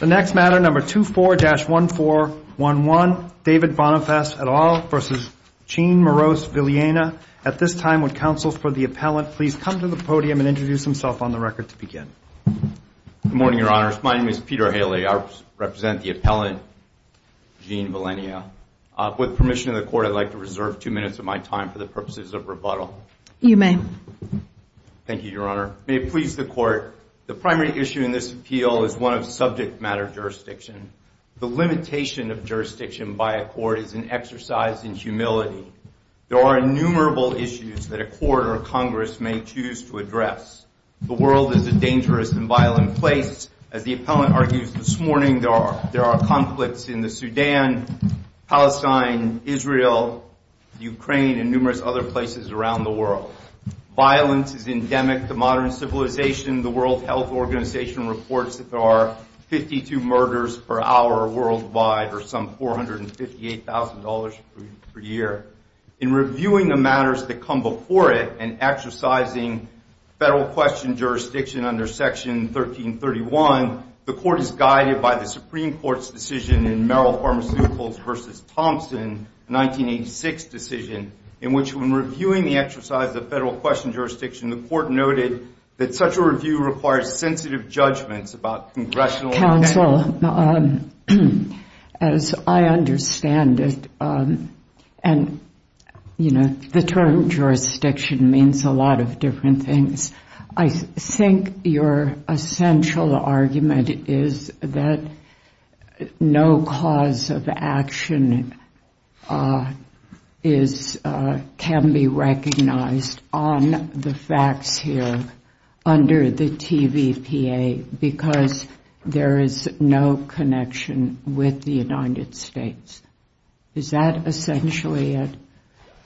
The next matter, number 24-1411, David Boniface et al. v. Gene Morose Viliena. At this time, would counsel for the appellant please come to the podium and introduce himself on the record to begin. Good morning, Your Honor. My name is Peter Haley. I represent the appellant, Gene Viliena. With permission of the Court, I'd like to reserve two minutes of my time for the purposes of rebuttal. You may. Thank you, Your Honor. May it please the Court, the primary issue in this appeal is one of subject matter jurisdiction. The limitation of jurisdiction by a court is an exercise in humility. There are innumerable issues that a court or Congress may choose to address. The world is a dangerous and violent place. As the appellant argues this morning, there are conflicts in the Sudan, Palestine, Israel, Ukraine, and numerous other places around the world. Violence is endemic to modern civilization. The World Health Organization reports that there are 52 murders per hour worldwide, or some $458,000 per year. In reviewing the matters that come before it and exercising federal question jurisdiction under Section 1331, the Court is guided by the Supreme Court's decision in Merrill Pharmaceuticals v. Thompson, a 1986 decision, in which when reviewing the exercise of federal question jurisdiction, the Court noted that such a review requires sensitive judgments about Congressional... Counsel, as I understand it, and, you know, the term jurisdiction means a lot of different things, I think your essential argument is that no cause of action can be recognized on the facts here under the TVPA because there is no connection with the United States. Is that essentially it?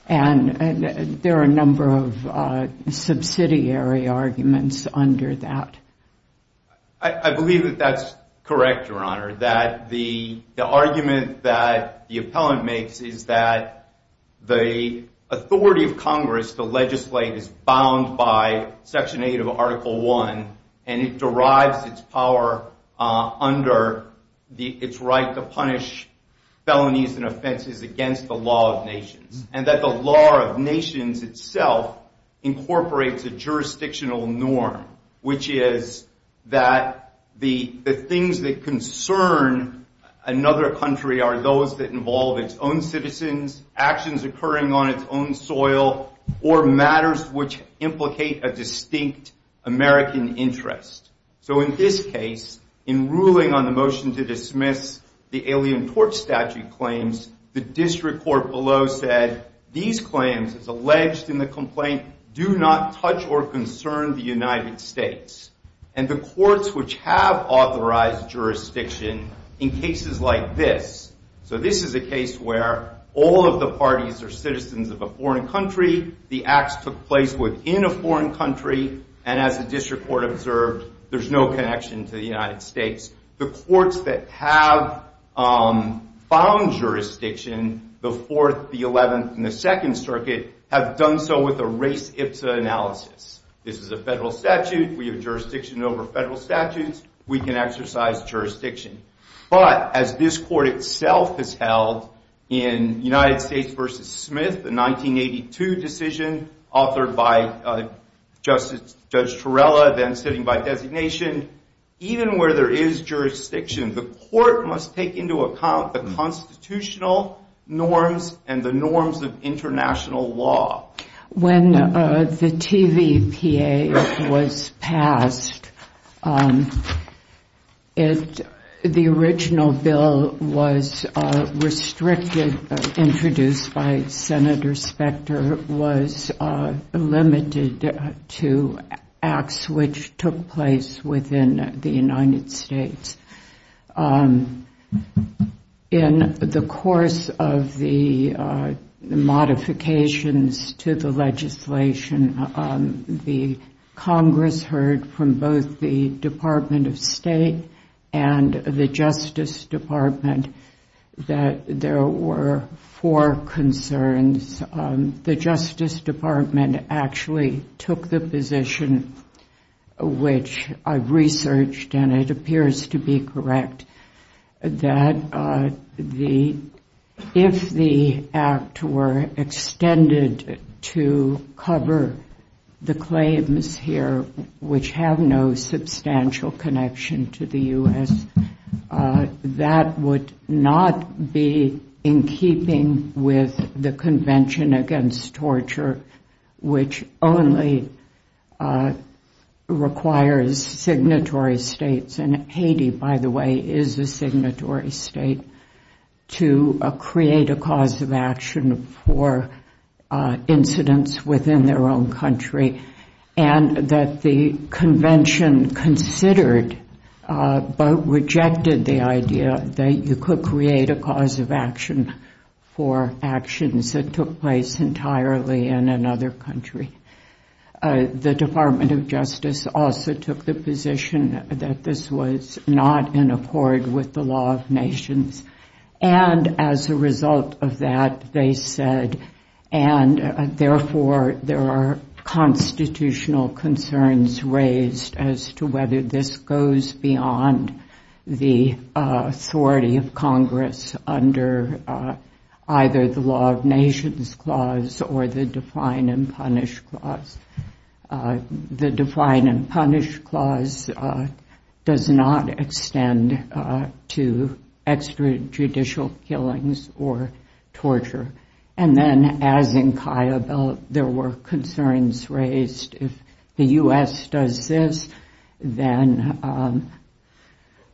And there are a number of subsidiary arguments under that. I believe that that's correct, Your Honor, that the argument that the appellant makes is that the authority of Congress to legislate is bound by Section 8 of Article 1, and it derives its power under its right to punish felonies and offenses against the law of nations, and that the law of nations itself incorporates a jurisdictional norm, which is that the things that concern another country are those that involve its own citizens, actions occurring on its own soil, or matters which implicate a distinct American interest. So in this case, in ruling on the motion to dismiss the Alien Torch Statute claims, the district court below said these claims, as alleged in the complaint, do not touch or concern the United States. And the courts which have authorized jurisdiction in cases like this, so this is a case where all of the parties are citizens of a foreign country, the acts took place within a foreign country, and as the district court observed, there's no connection to the United States. The courts that have found jurisdiction before the 11th and the 2nd Circuit have done so with a race ipsa analysis. This is a federal statute. We have jurisdiction over federal statutes. We can exercise jurisdiction. But as this court itself has held in United States v. Smith, the 1982 decision authored by Judge Torella, then sitting by designation, even where there is jurisdiction, the court must take into account the constitutional norms and the norms of international law. When the TVPA was passed, the original bill was restricted, introduced by Senator Specter, was limited to acts which took place within the United States. In the course of the modifications to the legislation, the Congress heard from both the Department of State and the Justice Department that there were four concerns. The Justice Department actually took the position, which I've researched and it appears to be correct, that if the act were extended to cover the claims here which have no substantial connection to the U.S., that would not be in keeping with the Convention Against Torture, which only requires signatory states, and Haiti, by the way, is a signatory state, to create a cause of action for incidents within their own country, and that the convention considered but rejected the idea that you could create a cause of action for actions that took place entirely in another country. The Department of Justice also took the position that this was not in accord with the law of nations, and as a result of that, they said, and therefore there are constitutional concerns raised as to whether this goes beyond the authority of Congress under either the law of nations clause or the define and punish clause. The define and punish clause does not extend to extrajudicial killings or torture, and then, as in Kayhabel, there were concerns raised if the U.S. does this, then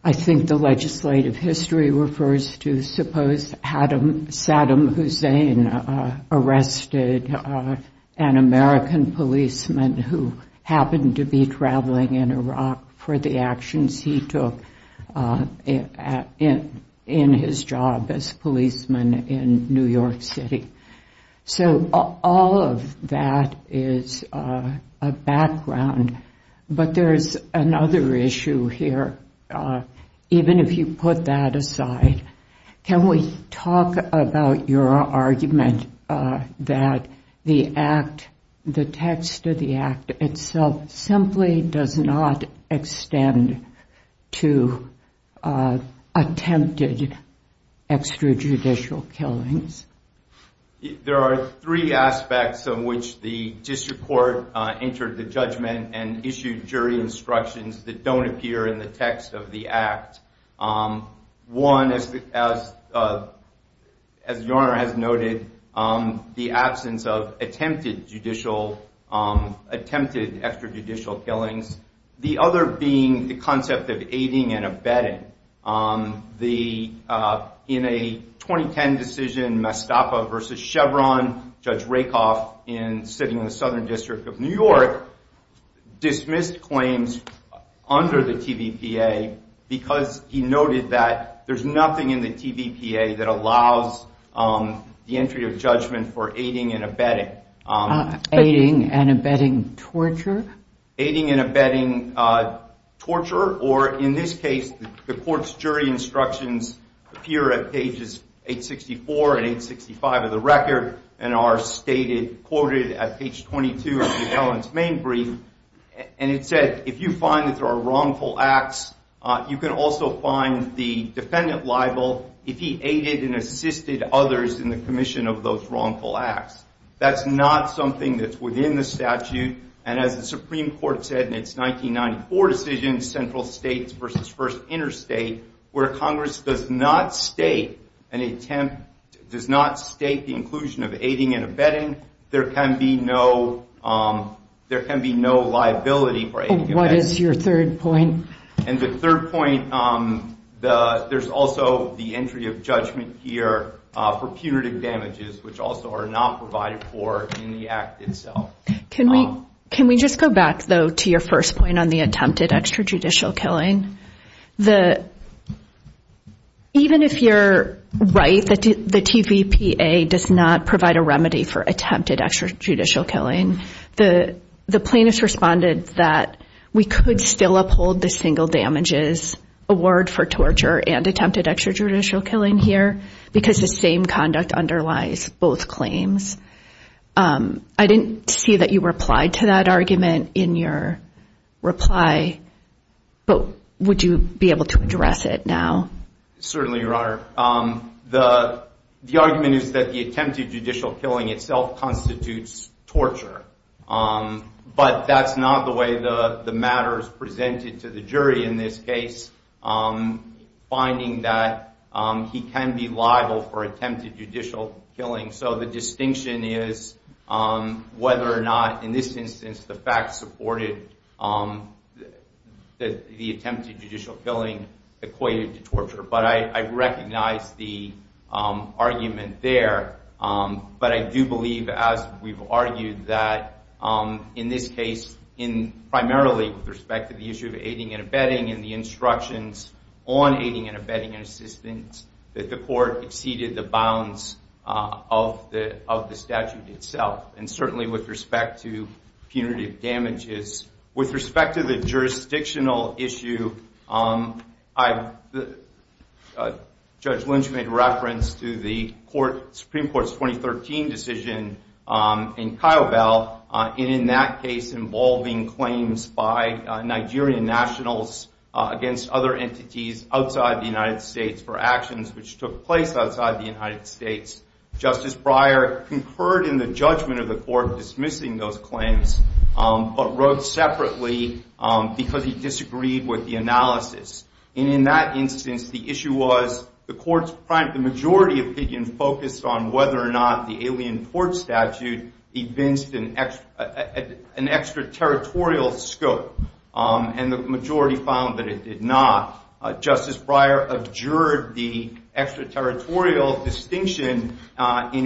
I think the legislative history refers to, I suppose, Saddam Hussein arrested an American policeman who happened to be traveling in Iraq for the actions he took in his job as a policeman in New York City. So all of that is a background, but there is another issue here, even if you put that aside. Can we talk about your argument that the act, the text of the act itself simply does not extend to attempted extrajudicial killings? There are three aspects in which the district court entered the judgment and issued jury instructions that don't appear in the text of the act. One, as your Honor has noted, the absence of attempted extrajudicial killings. The other being the concept of aiding and abetting. In a 2010 decision, Mastappa v. Chevron, Judge Rakoff sitting in the Southern District of New York dismissed claims under the TVPA because he noted that there's nothing in the TVPA that allows the entry of judgment for aiding and abetting. Aiding and abetting torture? Well, the court's jury instructions appear at pages 864 and 865 of the record and are quoted at page 22 of the evidence main brief. And it said, if you find that there are wrongful acts, you can also find the defendant liable if he aided and assisted others in the commission of those wrongful acts. That's not something that's within the statute. That's not something that's within the statute. And the third point, there's also the entry of judgment here for punitive damages, which also are not provided for in the act itself. Can we just go back, though, to your first point on the attempted extrajudicial killing? Even if you're right that the TVPA does not provide a remedy for attempted extrajudicial killing, the plaintiffs responded that we could still uphold the single damages award for torture and attempted extrajudicial killing here because the same conduct underlies both claims. I didn't see that you replied to that argument in your reply, but would you be able to address it? Certainly, Your Honor. The argument is that the attempted judicial killing itself constitutes torture, but that's not the way the matter is presented to the jury in this case, finding that he can be liable for attempted judicial killing. So the distinction is whether or not, in this instance, the fact supported that the attempted judicial killing equates to torture. But I recognize the argument there. But I do believe, as we've argued, that in this case, primarily with respect to the issue of aiding and abetting and the instructions on aiding and abetting and assistance, that the court exceeded the bounds of the statute itself. And certainly with respect to punitive damages. With respect to the jurisdictional issue, Judge Lynch made reference to the Supreme Court's 2013 decision in Kiobel. And in that case, involving claims by Nigerian nationals against other entities outside the United States for actions which took place outside the United States. Justice Breyer concurred in the judgment of the court dismissing those claims, but wrote separately because he disagreed with the analysis. And in that instance, the issue was the court's majority opinion focused on whether or not the alien port statute evinced an extraterritorial scope. And the majority found that it did not. And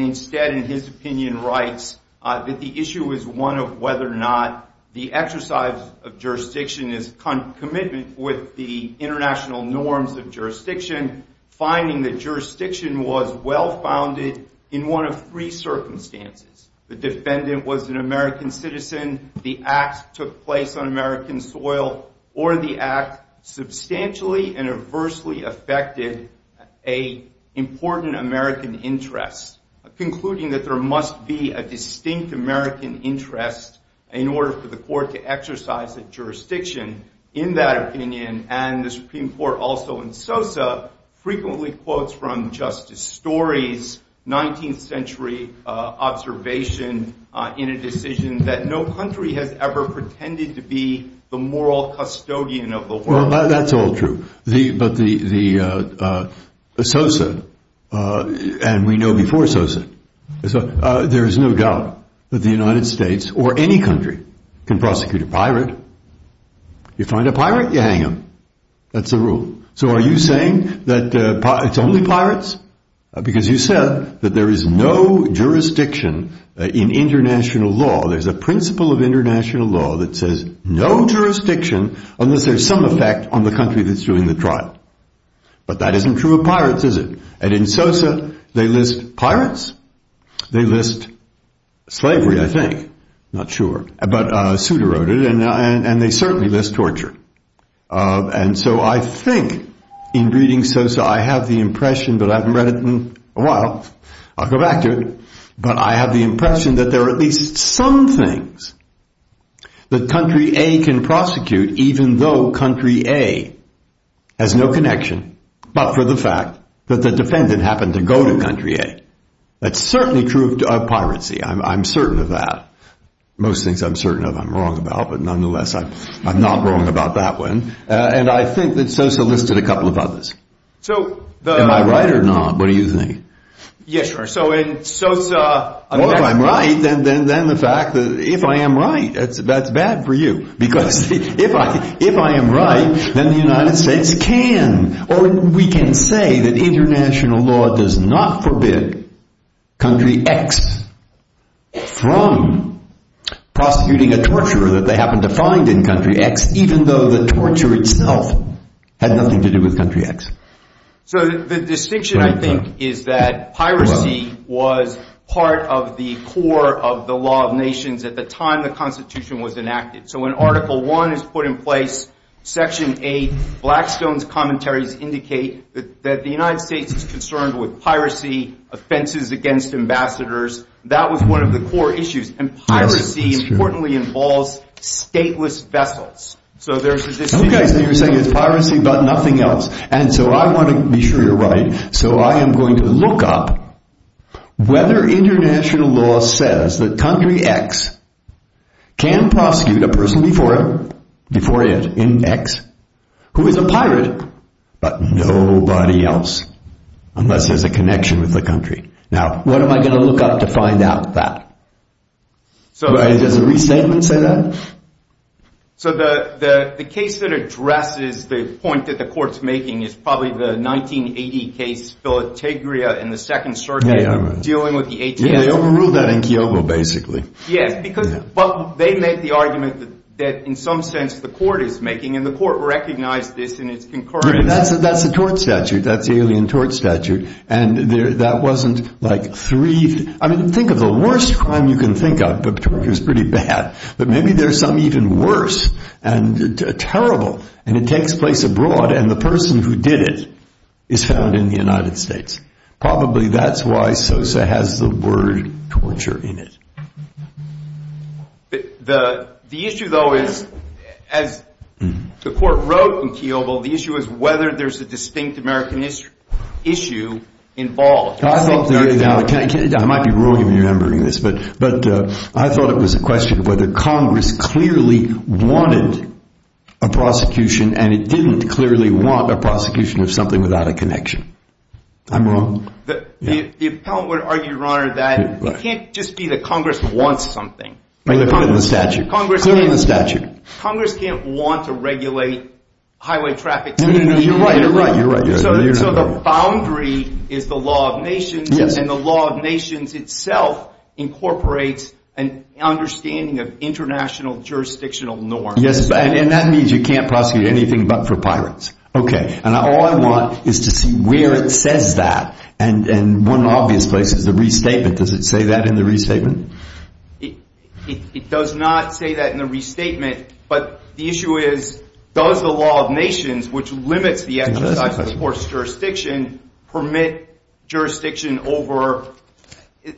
instead, in his opinion, writes that the issue is one of whether or not the exercise of jurisdiction is commitment with the international norms of jurisdiction. Finding that jurisdiction was well-founded in one of three circumstances. The defendant was an American citizen. The act took place on American soil, or the act substantially and adversely affected an important American interest. Concluding that there must be a distinct American interest in order for the court to exercise that jurisdiction. In that opinion, and the Supreme Court also in Sosa, frequently quotes from Justice Story's 19th century observation in a decision that no claim was made. And that is that no country has ever pretended to be the moral custodian of the world. Well, that's all true. But Sosa, and we know before Sosa, there is no doubt that the United States or any country can prosecute a pirate. You find a pirate, you hang him. That's the rule. So are you saying that it's only pirates? Because you said that there is no jurisdiction in international law. There's a principle of international law that says no jurisdiction unless there's some effect on the country that's doing the trial. But that isn't true of pirates, is it? And in Sosa, they list pirates. They list slavery, I think. Not sure, but Souter wrote it, and they certainly list torture. And so I think in reading Sosa, I have the impression, but I haven't read it in a while, I'll go back to it, but I have the impression that there are at least some things that country A can prosecute, even though country A has no connection but for the fact that the defendant happened to go to country A. That's certainly true of piracy, I'm certain of that. Most things I'm certain of I'm wrong about, but nonetheless, I'm not wrong about that one. And I think that Sosa listed a couple of others. Am I right or not? What do you think? Well, if I'm right, then the fact that if I am right, that's bad for you. Because if I am right, then the United States can, or we can say that international law does not forbid country X from prosecuting a torturer that they happened to find in country X, even though the torture itself had nothing to do with country X. So the distinction, I think, is that piracy was part of the core of the law of nations at the time the Constitution was enacted. So when Article I is put in place, Section 8, Blackstone's commentaries indicate that the United States is concerned with piracy, offenses against ambassadors, that was one of the core issues. And piracy, importantly, involves stateless vessels. Okay, so you're saying it's piracy, but nothing else. And so I want to be sure you're right. So I am going to look up whether international law says that country X can prosecute a person before it in X who is a pirate, but nobody else, unless there's a connection with the country. Now, what am I going to look up to find out that? Does a restatement say that? So the case that addresses the point that the Court's making is probably the 1980 case, Filategria and the Second Circuit dealing with the 18th. They overruled that in Kiobo, basically. Yes, because they made the argument that, in some sense, the Court is making, and the Court recognized this in its concurrence. That's the tort statute. That's the alien tort statute. I mean, think of the worst crime you can think of, but maybe there's some even worse and terrible, and it takes place abroad, and the person who did it is found in the United States. Probably that's why Sosa has the word torture in it. The issue, though, is, as the Court wrote in Kiobo, the issue is whether there's a distinct American issue involved. I might be wrong in remembering this, but I thought it was a question of whether Congress clearly wanted a prosecution, and it didn't clearly want a prosecution of something without a connection. I'm wrong. The appellant would argue, Your Honor, that it can't just be that Congress wants something. Congress can't want to regulate highway traffic. No, no, no. You're right. You're right. So the boundary is the law of nations, and the law of nations itself incorporates an understanding of international jurisdictional norms. Yes, and that means you can't prosecute anything but for pirates. Okay, and all I want is to see where it says that, and one obvious place is the restatement. Does it say that in the restatement? It does not say that in the restatement, but the issue is, does the law of nations, which limits the exercise of forced jurisdiction, permit jurisdiction over,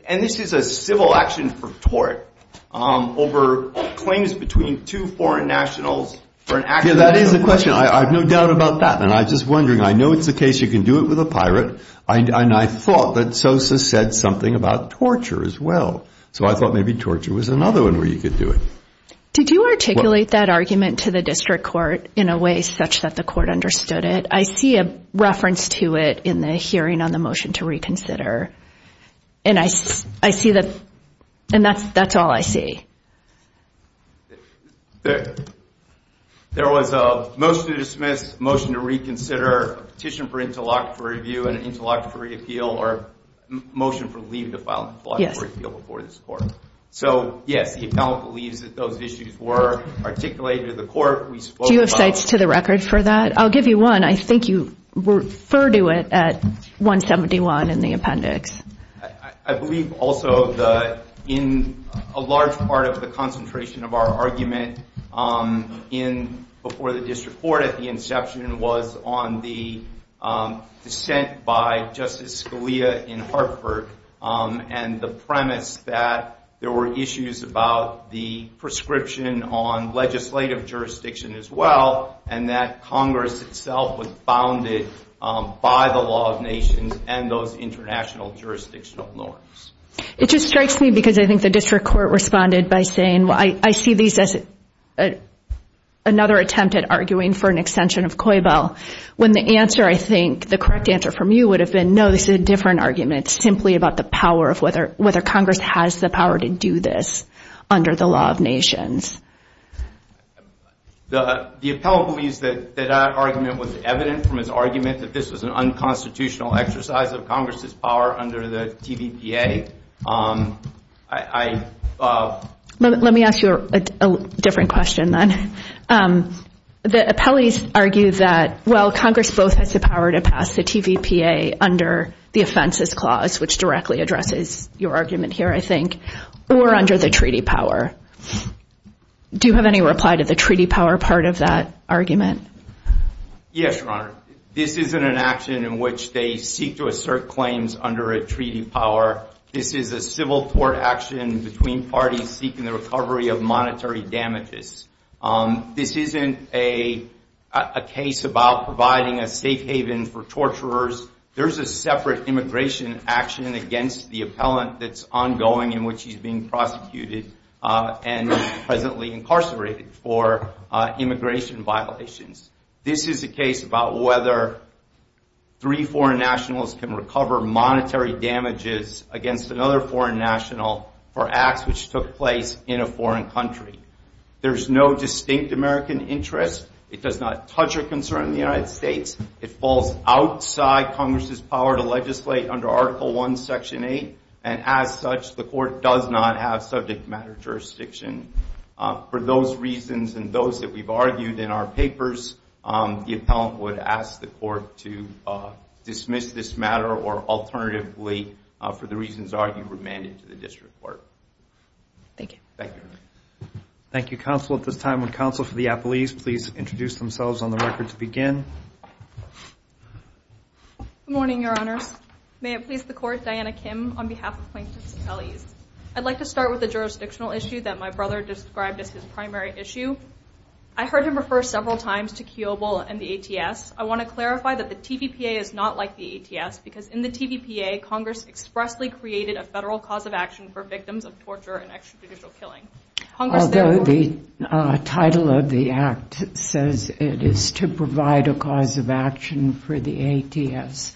and this is a civil action for tort, over claims between two foreign nationals for an act of... Yeah, that is the question. I have no doubt about that, and I'm just wondering. I know it's the case you can do it with a pirate, and I thought that Sosa said something about torture as well, so I thought maybe torture was another one where you could do it. Did you articulate that argument to the district court in a way such that the court understood it? I see a reference to it in the hearing on the motion to reconsider, and I see that, and that's all I see. There was a motion to dismiss, a motion to reconsider, a petition for interlocutory review, and an interlocutory appeal, or a motion for leave to file an interlocutory appeal before this court. So yes, the appellant believes that those issues were articulated to the court. Do you have sites to the record for that? I'll give you one. I think you referred to it at 171 in the appendix. I believe also that in a large part of the concentration of our argument before the district court at the inception was on the dissent by Justice Scalia in Hartford, and the premise that there were issues about the prescription on legislative jurisdiction as well, and that Congress itself was founded by the law of nations and those international jurisdictional norms. It just strikes me, because I think the district court responded by saying, well, I see these as another attempt at arguing for an extension of COIBO. When the answer, I think, the correct answer from you would have been, no, this is a different argument. It's simply about the power of whether Congress has the power to do this under the law of nations. The appellant believes that that argument was evident from his argument that this was an unconstitutional exercise of Congress' power under the TVPA. Let me ask you a different question, then. The appellate argues that, well, Congress both has the power to pass the TVPA under the offenses clause, which directly addresses your argument here, I think, or under the treaty power. Do you have any reply to the treaty power part of that argument? Yes, Your Honor. This isn't an action in which they seek to assert claims under a treaty power. This is a civil court action between parties seeking the recovery of monetary damages. This isn't a case about providing a safe haven for torturers. There's a separate immigration action against the appellant that's ongoing in which he's being prosecuted and presently incarcerated for immigration violations. This is a case about whether three foreign nationals can recover monetary damages against another foreign national for acts which took place in a foreign country. There's no distinct American interest. It does not touch a concern in the United States. It falls outside Congress' power to legislate under Article I, Section 8, and as such, the court does not have subject matter jurisdiction. For those reasons and those that we've argued in our papers, the appellant would ask the court to dismiss this matter or alternatively, for the reasons argued, remand it to the district court. Thank you. Good morning, Your Honors. May it please the Court, Diana Kim on behalf of Plaintiffs and Appellees. I'd like to start with a jurisdictional issue that my brother described as his primary issue. I heard him refer several times to Kiobel and the ATS. I want to clarify that the TVPA is not like the ATS because in the TVPA, Congress expressly created a federal cause of action for victims of torture and extrajudicial killing. Although the title of the Act says it is to provide a cause of action for the ATS,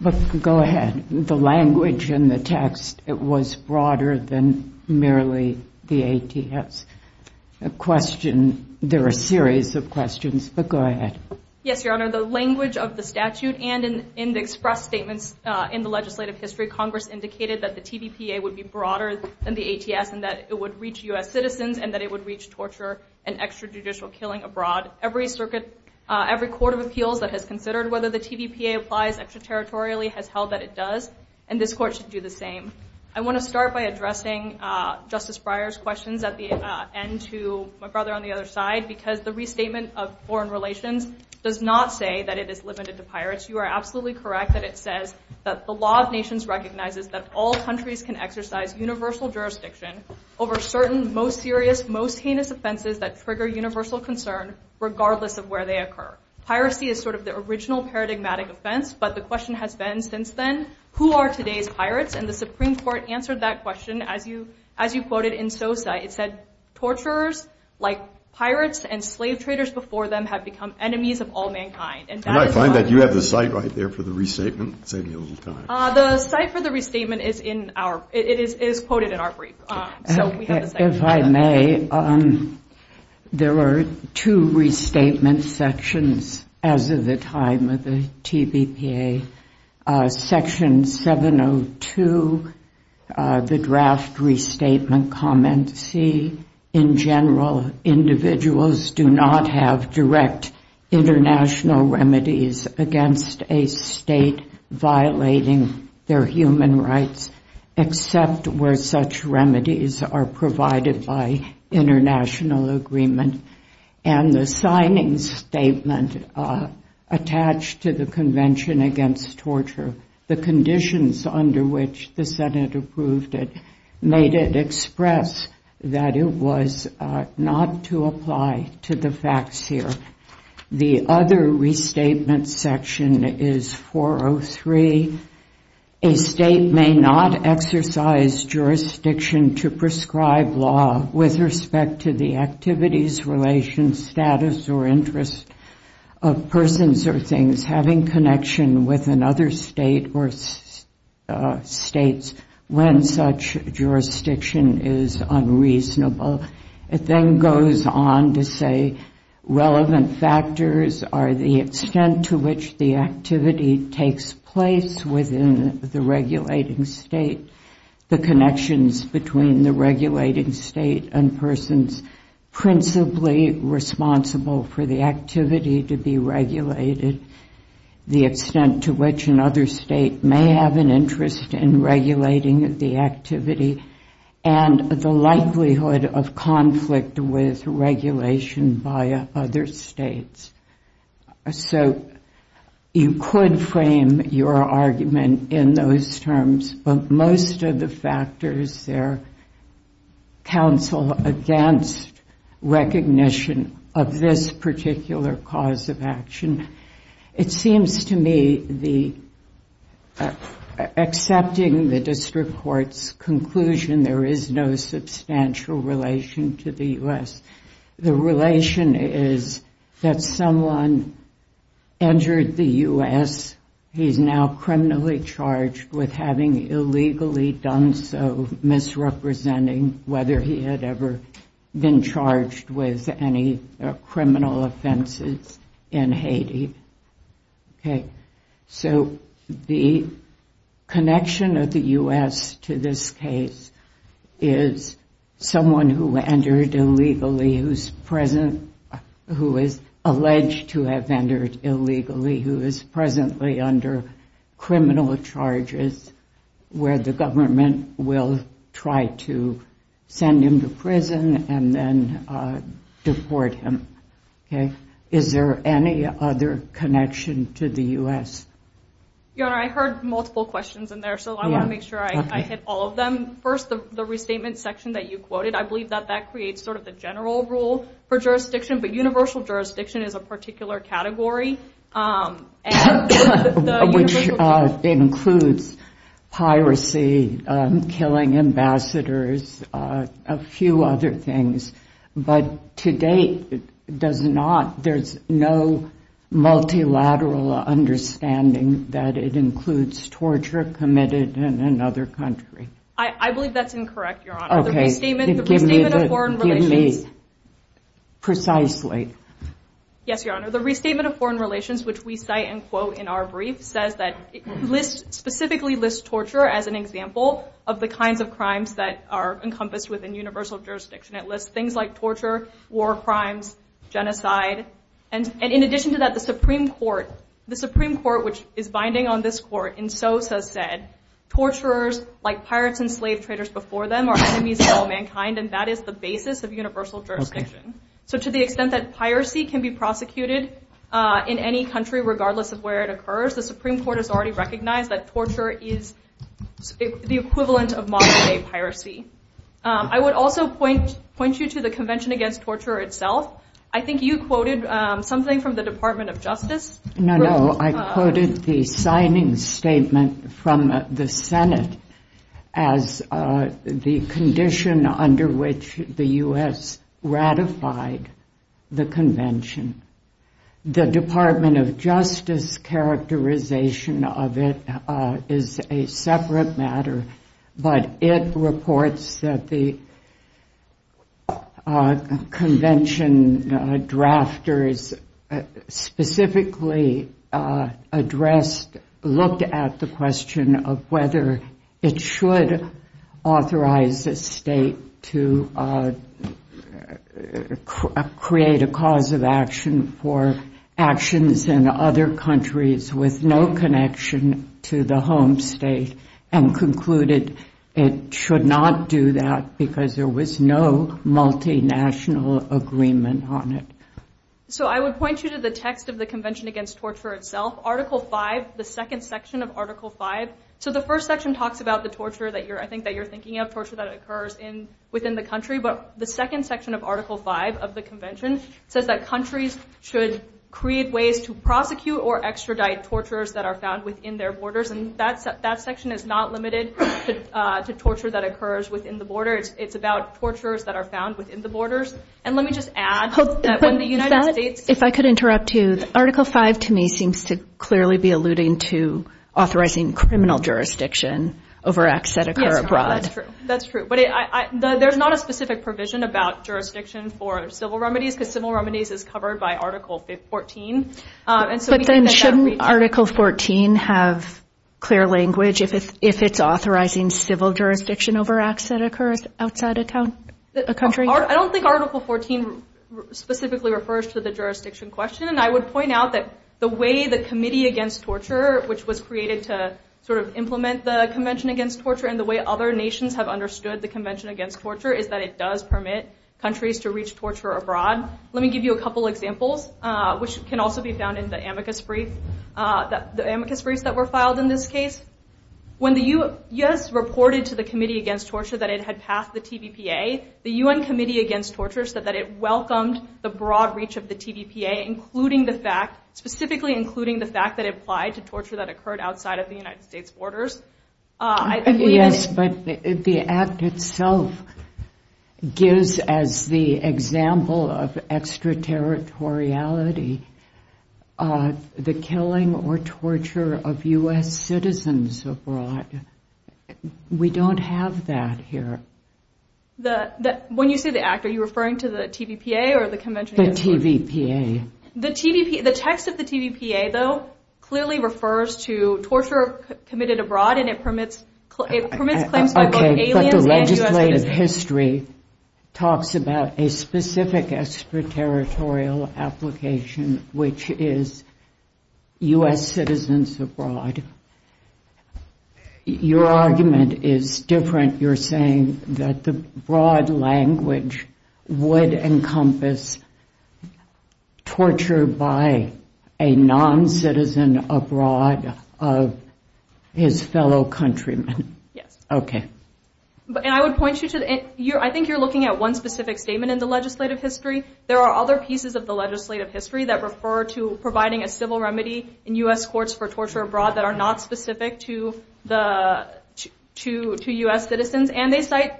but go ahead. The language in the text, it was broader than merely the ATS. There are a series of questions, but go ahead. Yes, Your Honor. The language of the statute and in the express statements in the legislative history, Congress indicated that the TVPA would be broader than the ATS and that it would reach U.S. citizens and that it would reach torture and extrajudicial killing abroad. Every court of appeals that has considered whether the TVPA applies extraterritorially has held that it does, and this Court should do the same. I want to start by addressing Justice Breyer's questions at the end to my brother on the other side because the restatement of foreign relations does not say that it is limited to pirates. You are absolutely correct that it says that the law of nations recognizes that all countries can exercise universal jurisdiction over certain most serious, most heinous offenses that trigger universal concern regardless of where they occur. Piracy is sort of the original paradigmatic offense, but the question has been since then, who are today's pirates? And the Supreme Court answered that question as you quoted in Sosa. It said, torturers like pirates and slave traders before them have become enemies of all mankind. And I find that you have the site right there for the restatement. Save me a little time. The site for the restatement is in our, it is quoted in our brief. If I may, there are two restatement sections as of the time of the TVPA. Section 702, the draft restatement comment C, in general, individuals do not have direct international remedies against a state-violating law. There are human rights except where such remedies are provided by international agreement. And the signing statement attached to the Convention Against Torture, the conditions under which the Senate approved it, made it express that it was not to apply to the facts here. The other restatement section is 403. A state may not exercise jurisdiction to prescribe law with respect to the activities, relations, status, or interest of persons or things having connection with another state or states when such jurisdiction is unreasonable. It then goes on to say relevant factors are the extent to which the activity takes place within the regulating state, the connections between the regulating state and persons principally responsible for the activity to be regulated, the extent to which another state may have an interest in regulating the activity, and the likelihood of conflict with regulation by other states. So you could frame your argument in those terms, but most of the factors there counsel against recognition of this particular cause of action. It seems to me, accepting the district court's conclusion, there is no substantial relation to the U.S. The relation is that someone entered the U.S., he's now criminally charged with having illegally done so, misrepresenting whether he had ever been charged with any criminal offenses in Haiti. So the connection of the U.S. to this case is someone who entered illegally, who is alleged to have entered illegally, who is presently under criminal charges where the government will try to send him to prison and then deport him. Is there any other connection to the U.S.? I heard multiple questions in there, so I want to make sure I hit all of them. First, the restatement section that you quoted, I believe that that creates sort of the general rule for jurisdiction, but universal jurisdiction is a particular category. Which includes piracy, killing ambassadors, a few other things. But to date, there's no multilateral understanding that it includes torture committed in another country. I believe that's incorrect, Your Honor. The restatement of foreign relations, which we cite and quote in our brief, says that it specifically lists torture as an example of the kinds of crimes that are encompassed within universal jurisdiction. It lists things like torture, war crimes, genocide. And in addition to that, the Supreme Court, which is binding on this Court, in Sosa said, torturers like pirates and slave traders before them are enemies of all mankind, and that is the basis of universal jurisdiction. So to the extent that piracy can be prosecuted in any country, regardless of where it occurs, the Supreme Court has already recognized that torture is the equivalent of modern day piracy. I would also point you to the Convention Against Torture itself. I think you quoted something from the Department of Justice. No, no, I quoted the signing statement from the Senate as the condition under which the U.S. ratified the convention. The Department of Justice characterization of it is a separate matter, but it reports that the convention drafters specifically addressed, looked at the question of whether it should authorize a state to create a cause of action for actions in other countries with no connection to the home state, and concluded it should not do that because there was no multinational agreement on it. So I would point you to the text of the Convention Against Torture itself, Article 5, the second section of Article 5. So the first section talks about the torture that you're, I think that you're thinking of, torture that occurs within the country, but the second section of Article 5 of the convention says that countries should create ways to prosecute or extradite torturers that are found within their borders, and that section is not limited to torture that occurs within the borders. It's about torturers that are found within the borders, and let me just add that when the United States... If I could interrupt, too. Article 5, to me, seems to clearly be alluding to authorizing criminal jurisdiction over acts that occur abroad. Yes, that's true. That's true, but there's not a specific provision about jurisdiction for civil remedies, because civil remedies is covered by Article 14. But then shouldn't Article 14 have clear language if it's authorizing civil jurisdiction over acts that occur outside a country? I don't think Article 14 specifically refers to the jurisdiction question, and I would point out that the way the Committee Against Torture, which was created to sort of implement the Convention Against Torture, and the way other nations have understood the Convention Against Torture is that it does permit countries to reach torture abroad. Let me give you a couple examples, which can also be found in the amicus brief, the amicus briefs that were filed in this case. When the U.S. reported to the Committee Against Torture that it had passed the TVPA, the U.N. Committee Against Torture said that it welcomed the broad reach of the TVPA, including the fact, specifically including the fact that it applied to torture that occurred outside of the United States' borders. Yes, but the act itself gives as the example of extraterritoriality the killing or torture of U.S. citizens abroad. We don't have that here. When you say the act, are you referring to the TVPA or the Convention Against Torture? The TVPA. The text of the TVPA, though, clearly refers to torture committed abroad, and it permits claims by both aliens and U.S. citizens. Okay, but the legislative history talks about a specific extraterritorial application, which is U.S. citizens abroad. Your argument is different. You're saying that the broad language would encompass U.S. citizens abroad. You're saying that U.S. citizens abroad would be tortured by a non-citizen abroad of his fellow countrymen. Yes. Okay. And I would point you to the end. I think you're looking at one specific statement in the legislative history. There are other pieces of the legislative history that refer to providing a civil remedy in U.S. courts for torture abroad that are not specific to U.S. citizens. Okay.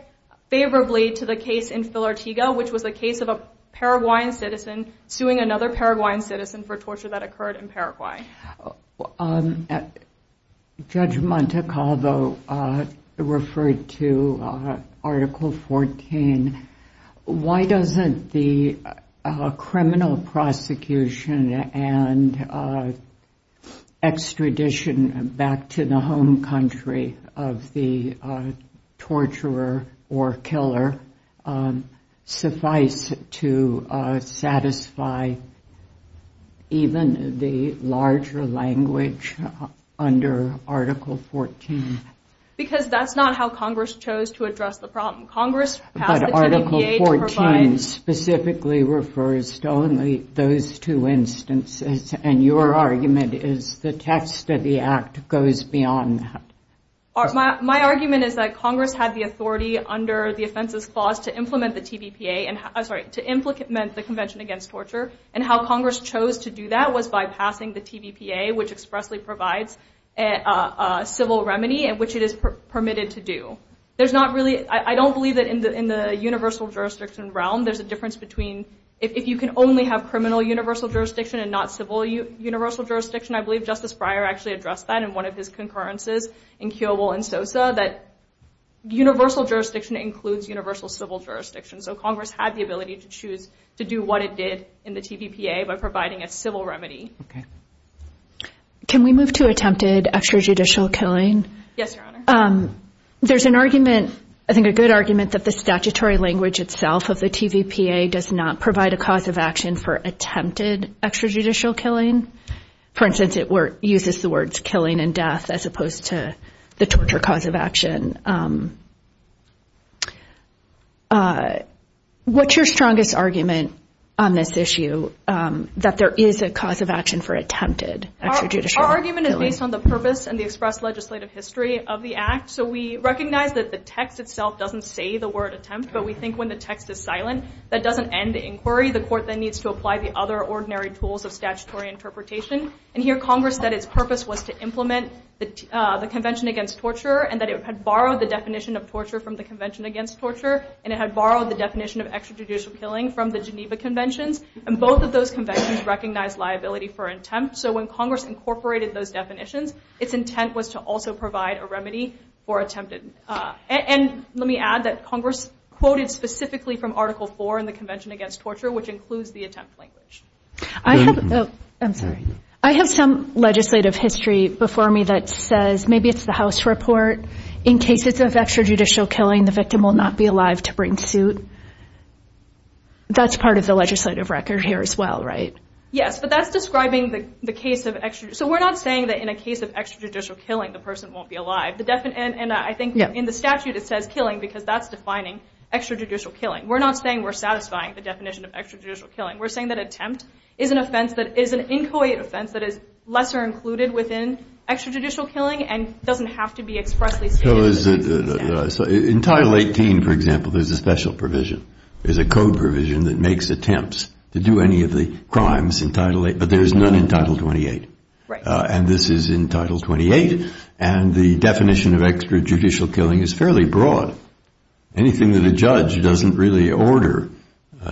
Judge Montecalvo referred to Article 14. Why doesn't the criminal prosecution and extradition back to the home country of the torturer or killer suffice to satisfy the even the larger language under Article 14? Because that's not how Congress chose to address the problem. Congress passed the TVPA to provide... But Article 14 specifically refers to only those two instances, and your argument is the text of the Act goes beyond that. My argument is that Congress had the authority under the offenses clause to implement the TVPA, I'm sorry, to implement the Convention Against Torture, and how Congress chose to do that was by passing the TVPA, which expressly provides a civil remedy in which it is permitted to do. There's not really... I don't believe that in the universal jurisdiction realm there's a difference between... If you can only have criminal universal jurisdiction and not civil universal jurisdiction, I believe Justice Breyer actually addressed that in one of his concurrences in Kiobel and Sosa, that universal jurisdiction includes universal civil jurisdiction. So Congress had the ability to choose to do what it did in the TVPA by providing a civil remedy. Can we move to attempted extrajudicial killing? There's an argument, I think a good argument, that the statutory language itself of the TVPA does not provide a cause of action for attempted extrajudicial killing. For instance, it uses the words killing and death as opposed to the torture cause of action. What's your strongest argument on this issue, that there is a cause of action for attempted extrajudicial killing? Our argument is based on the purpose and the express legislative history of the act. So we recognize that the text itself doesn't say the word attempt, but we think when the text is silent, that doesn't end the inquiry. The court then needs to apply the other ordinary tools of statutory interpretation. And here Congress said its purpose was to implement the Convention Against Torture, and that it had borrowed the definition of torture from the Convention Against Torture, and it had borrowed the definition of extrajudicial killing from the Geneva Conventions, and both of those conventions recognized liability for attempt. So when Congress incorporated those definitions, its intent was to also provide a remedy for attempted. And let me add that Congress quoted specifically from Article 4 in the Convention Against Torture, which includes the attempt language. I have some legislative history before me that says maybe it's the House report, in cases of extrajudicial killing the victim will not be alive to bring suit. That's part of the legislative record here as well, right? Yes, but that's describing the case of extrajudicial. So we're not saying that in a case of extrajudicial killing the person won't be alive. And I think in the statute it says killing because that's defining extrajudicial killing. We're not saying we're satisfying the definition of extrajudicial killing. We're saying that killing because of an attempt is an offense that is an inchoate offense that is lesser included within extrajudicial killing and doesn't have to be expressly stated in the statute. So in Title 18, for example, there's a special provision, there's a code provision that makes attempts to do any of the crimes in Title 18, but there's none in Title 28. And this is in Title 28, and the definition of extrajudicial killing is fairly broad. Anything that a judge doesn't really order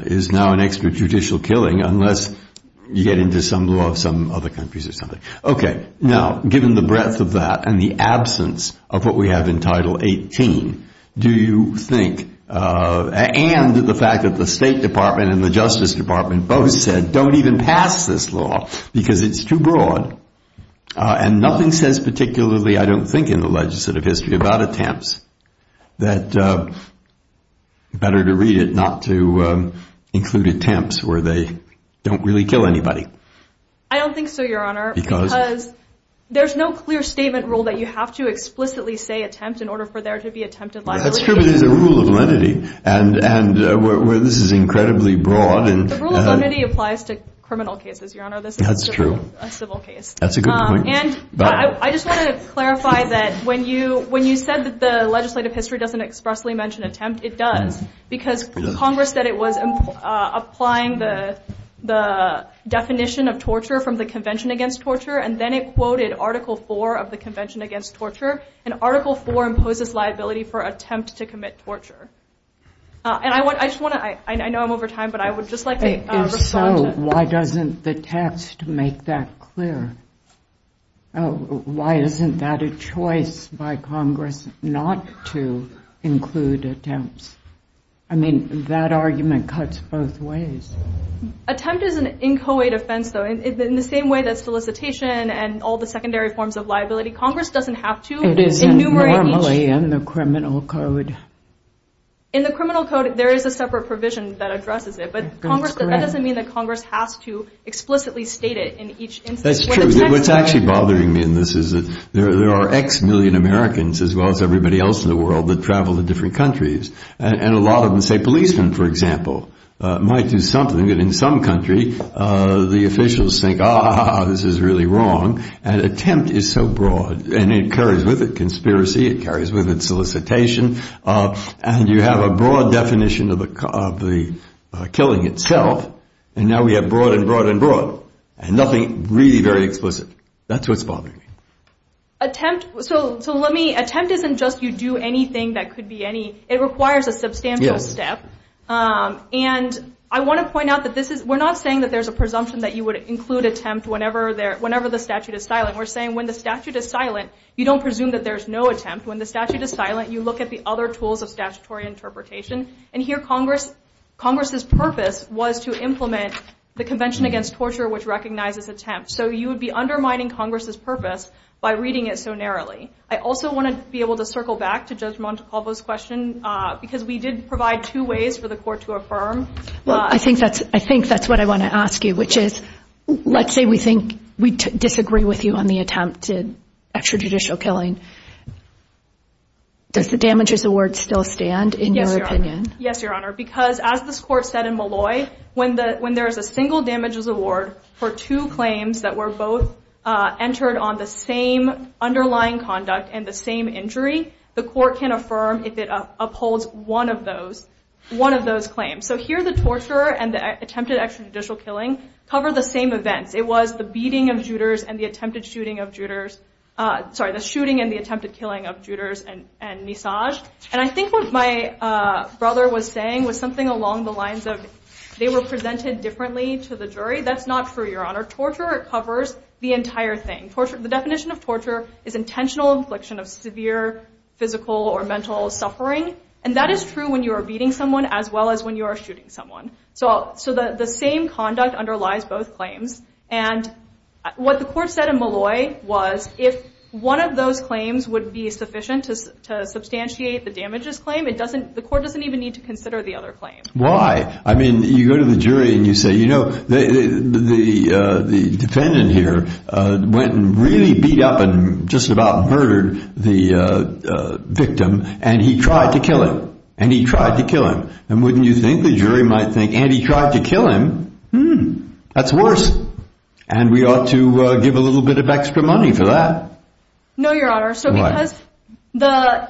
is now an extrajudicial killing unless you get into some law of some other countries or something. Okay. Now, given the breadth of that and the absence of what we have in Title 18, do you think, and the fact that the State Department and the Justice Department both said don't even pass this law because it's too broad, and nothing says particularly, I don't think, in the legislative history about attempts, that better to read it not to include attempts where they don't really kill anybody? I don't think so, Your Honor, because there's no clear statement rule that you have to explicitly say attempt in order for there to be attempted liability. That's true, but there's a rule of lenity where this is incredibly broad. The rule of lenity applies to criminal cases, Your Honor, this is a civil case. And I just want to clarify that when you said that the legislative history doesn't expressly mention attempt, it does. Because Congress said it was applying the definition of torture from the Convention Against Torture, and then it quoted Article 4 of the Convention Against Torture, and Article 4 imposes liability for attempt to commit torture. And I just want to, I know I'm over time, but I would just like to respond to that. If so, why doesn't the text make that clear? Why isn't that a choice by Congress not to include attempts? I mean, that argument cuts both ways. Attempt is an inchoate offense, though, in the same way that solicitation and all the secondary forms of liability, Congress doesn't have to enumerate each. In the criminal code, there is a separate provision that addresses it, but that doesn't mean that Congress has to explicitly state it in each instance. That's true. What's actually bothering me in this is that there are X million Americans, as well as everybody else in the world, that travel to different countries. And a lot of them, say, policemen, for example, might do something that in some country the officials think, ah, this is really wrong. And attempt is so broad. And it carries with it conspiracy. It carries with it solicitation. And you have a broad definition of the killing itself. And now we have broad and broad and broad. And nothing really very explicit. That's what's bothering me. Attempt isn't just you do anything that could be any, it requires a substantial step. And I want to point out that we're not saying that there's a presumption that you would include attempt whenever the statute is silent. We're saying when the statute is silent, you don't presume that there's no attempt. When the statute is silent, you look at the other tools of statutory interpretation. And here Congress's purpose was to implement the Convention Against Torture, which recognizes attempt. So you would be undermining Congress's purpose by reading it so narrowly. I also want to be able to circle back to Judge Montecalvo's question, because we did provide two ways for the court to affirm. Well, I think that's what I want to ask you, which is, let's say we think we disagree with you on the attempt to extrajudicial killing. Does the damages award still stand in your opinion? Yes, Your Honor. Because as this court said in Malloy, when there is a single damages award for two claims that were both entered on the same underlying conduct and the same injury, the court can affirm if it upholds one of those claims. So here the torture and the attempted extrajudicial killing cover the same events. It was the beating of Juders and the attempted shooting of Juders. Sorry, the shooting and the attempted killing of Juders and Nisaj. And I think what my brother was saying was something along the lines of they were presented differently to the jury. That's not true, Your Honor. Torture covers the entire thing. The definition of torture is intentional affliction of severe physical or mental suffering. And that is true when you are beating someone as well as when you are shooting someone. So the same conduct underlies both claims. And what the court said in Malloy was if one of those claims would be sufficient to substantiate the damages claim, the court doesn't even need to consider the other claim. Why? I mean, you go to the jury and you say, you know, the defendant here went and really beat up and just about murdered the victim. And he tried to kill him. And he tried to kill him. And wouldn't you think the jury might think, and he tried to kill him. That's worse. And we ought to give a little bit of extra money for that. No, Your Honor. So because the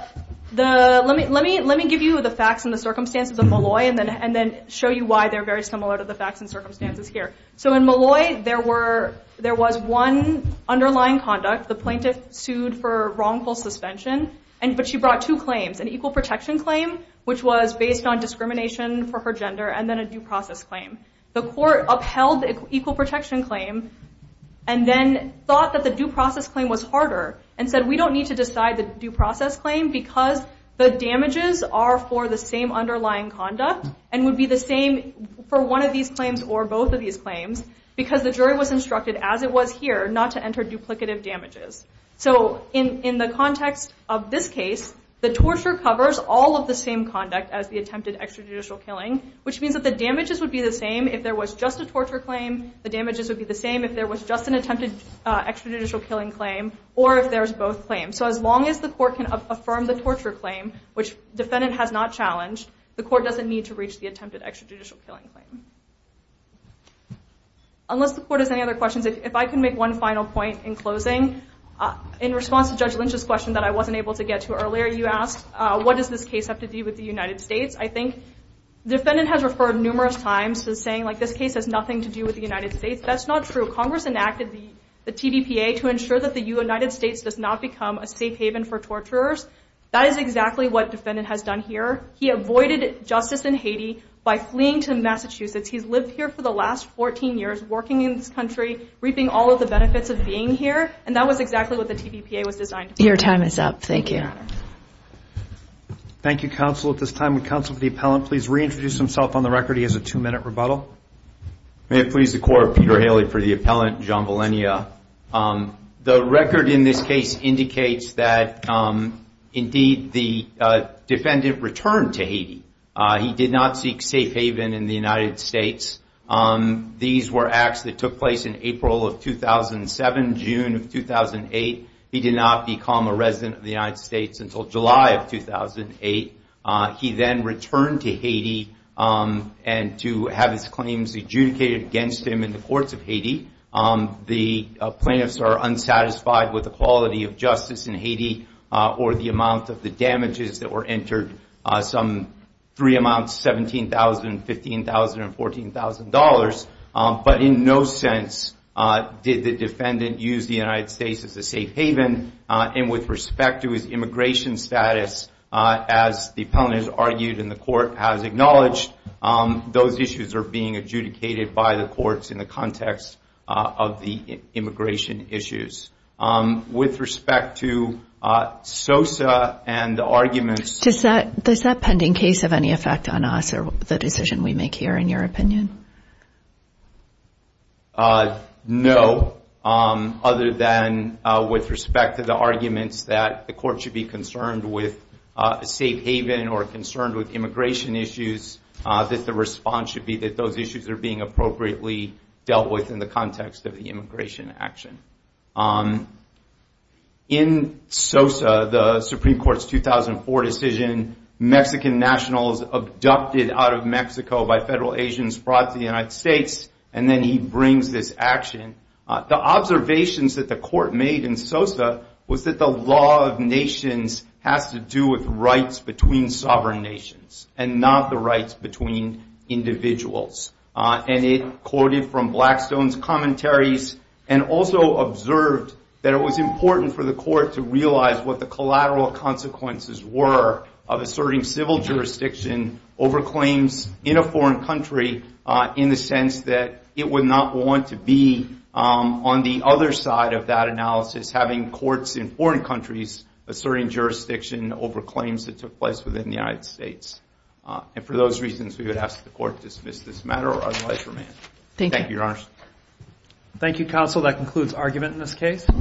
let me let me let me give you the facts and the circumstances of Malloy and then and then show you why they're very similar to the facts and circumstances here. So in Malloy, there were there was one underlying conduct. The plaintiff sued for wrongful suspension. And but she brought two claims, an equal protection claim, which was based on discrimination for her gender and then a due process claim. The court upheld equal protection claim and then thought that the due process claim was harder and said, we don't need to decide the due process claim because the damages are for the same underlying conduct and would be the same for one of these claims or both of these claims because the jury was instructed, as it was here, not to enter duplicative damages. So in the context of this case, the torture covers all of the same conduct as the attempted extrajudicial killing, which means that the damages would be the same if there was just a torture claim. The damages would be the same if there was just an attempted extrajudicial killing claim or if there's both claims. So as long as the court can affirm the torture claim, which defendant has not challenged, the court doesn't need to reach the attempted extrajudicial killing claim. Unless the court has any other questions, if I can make one final point in closing, in response to Judge Lynch's question that I wasn't able to get to earlier, you asked, what does this case have to do with the United States? I think the defendant has referred numerous times to saying, like, this case has nothing to do with the United States. That's not true. Congress enacted the TVPA to ensure that the United States does not become a safe haven for torturers. That is exactly what defendant has done here. He avoided justice in Haiti by fleeing to Massachusetts. He's lived here for the last 14 years, working in this country, reaping all of the benefits of being here, and that was exactly what the TVPA was designed to do. Your time is up. Thank you. Thank you, counsel. At this time, would counsel for the appellant please reintroduce himself on the record? He has a two-minute rebuttal. May it please the court, Peter Haley for the appellant, John Valenia. The record in this case indicates that, indeed, the defendant returned to Haiti. He did not seek safe haven in the United States. These were acts that took place in April of 2007, June of 2008. He did not become a resident of the United States until July of 2008. He then returned to Haiti and to have his claims adjudicated against him in the courts of Haiti. The plaintiffs are unsatisfied with the quality of justice in Haiti or the amount of the damages that were entered, some three amounts, $17,000, $15,000, and $14,000. But in no sense did the defendant use the United States as a safe haven. And with respect to his immigration status, as the appellant has argued and the court has acknowledged, those issues are being adjudicated by the courts in the context of the immigration issues. With respect to SOSA and the arguments... Does that pending case have any effect on us or the decision we make here, in your opinion? No, other than with respect to the arguments that the court should be concerned with a safe haven or concerned with immigration issues, that the response should be that those issues are being appropriately dealt with in the context of the immigration action. In SOSA, the Supreme Court's 2004 decision, Mexican nationals abducted out of Mexico by federal agents brought to the United States. And then he brings this action. The observations that the court made in SOSA was that the law of nations has to do with rights between sovereign nations and not the rights between individuals. And it quoted from Blackstone's commentaries and also observed that it was important for the court to realize what the collateral consequences were of asserting civil jurisdiction over claims in a foreign country. In the sense that it would not want to be on the other side of that analysis, having courts in foreign countries asserting jurisdiction over claims that took place within the United States. And for those reasons, we would ask the court to dismiss this matter or otherwise remand. Thank you, Your Honors.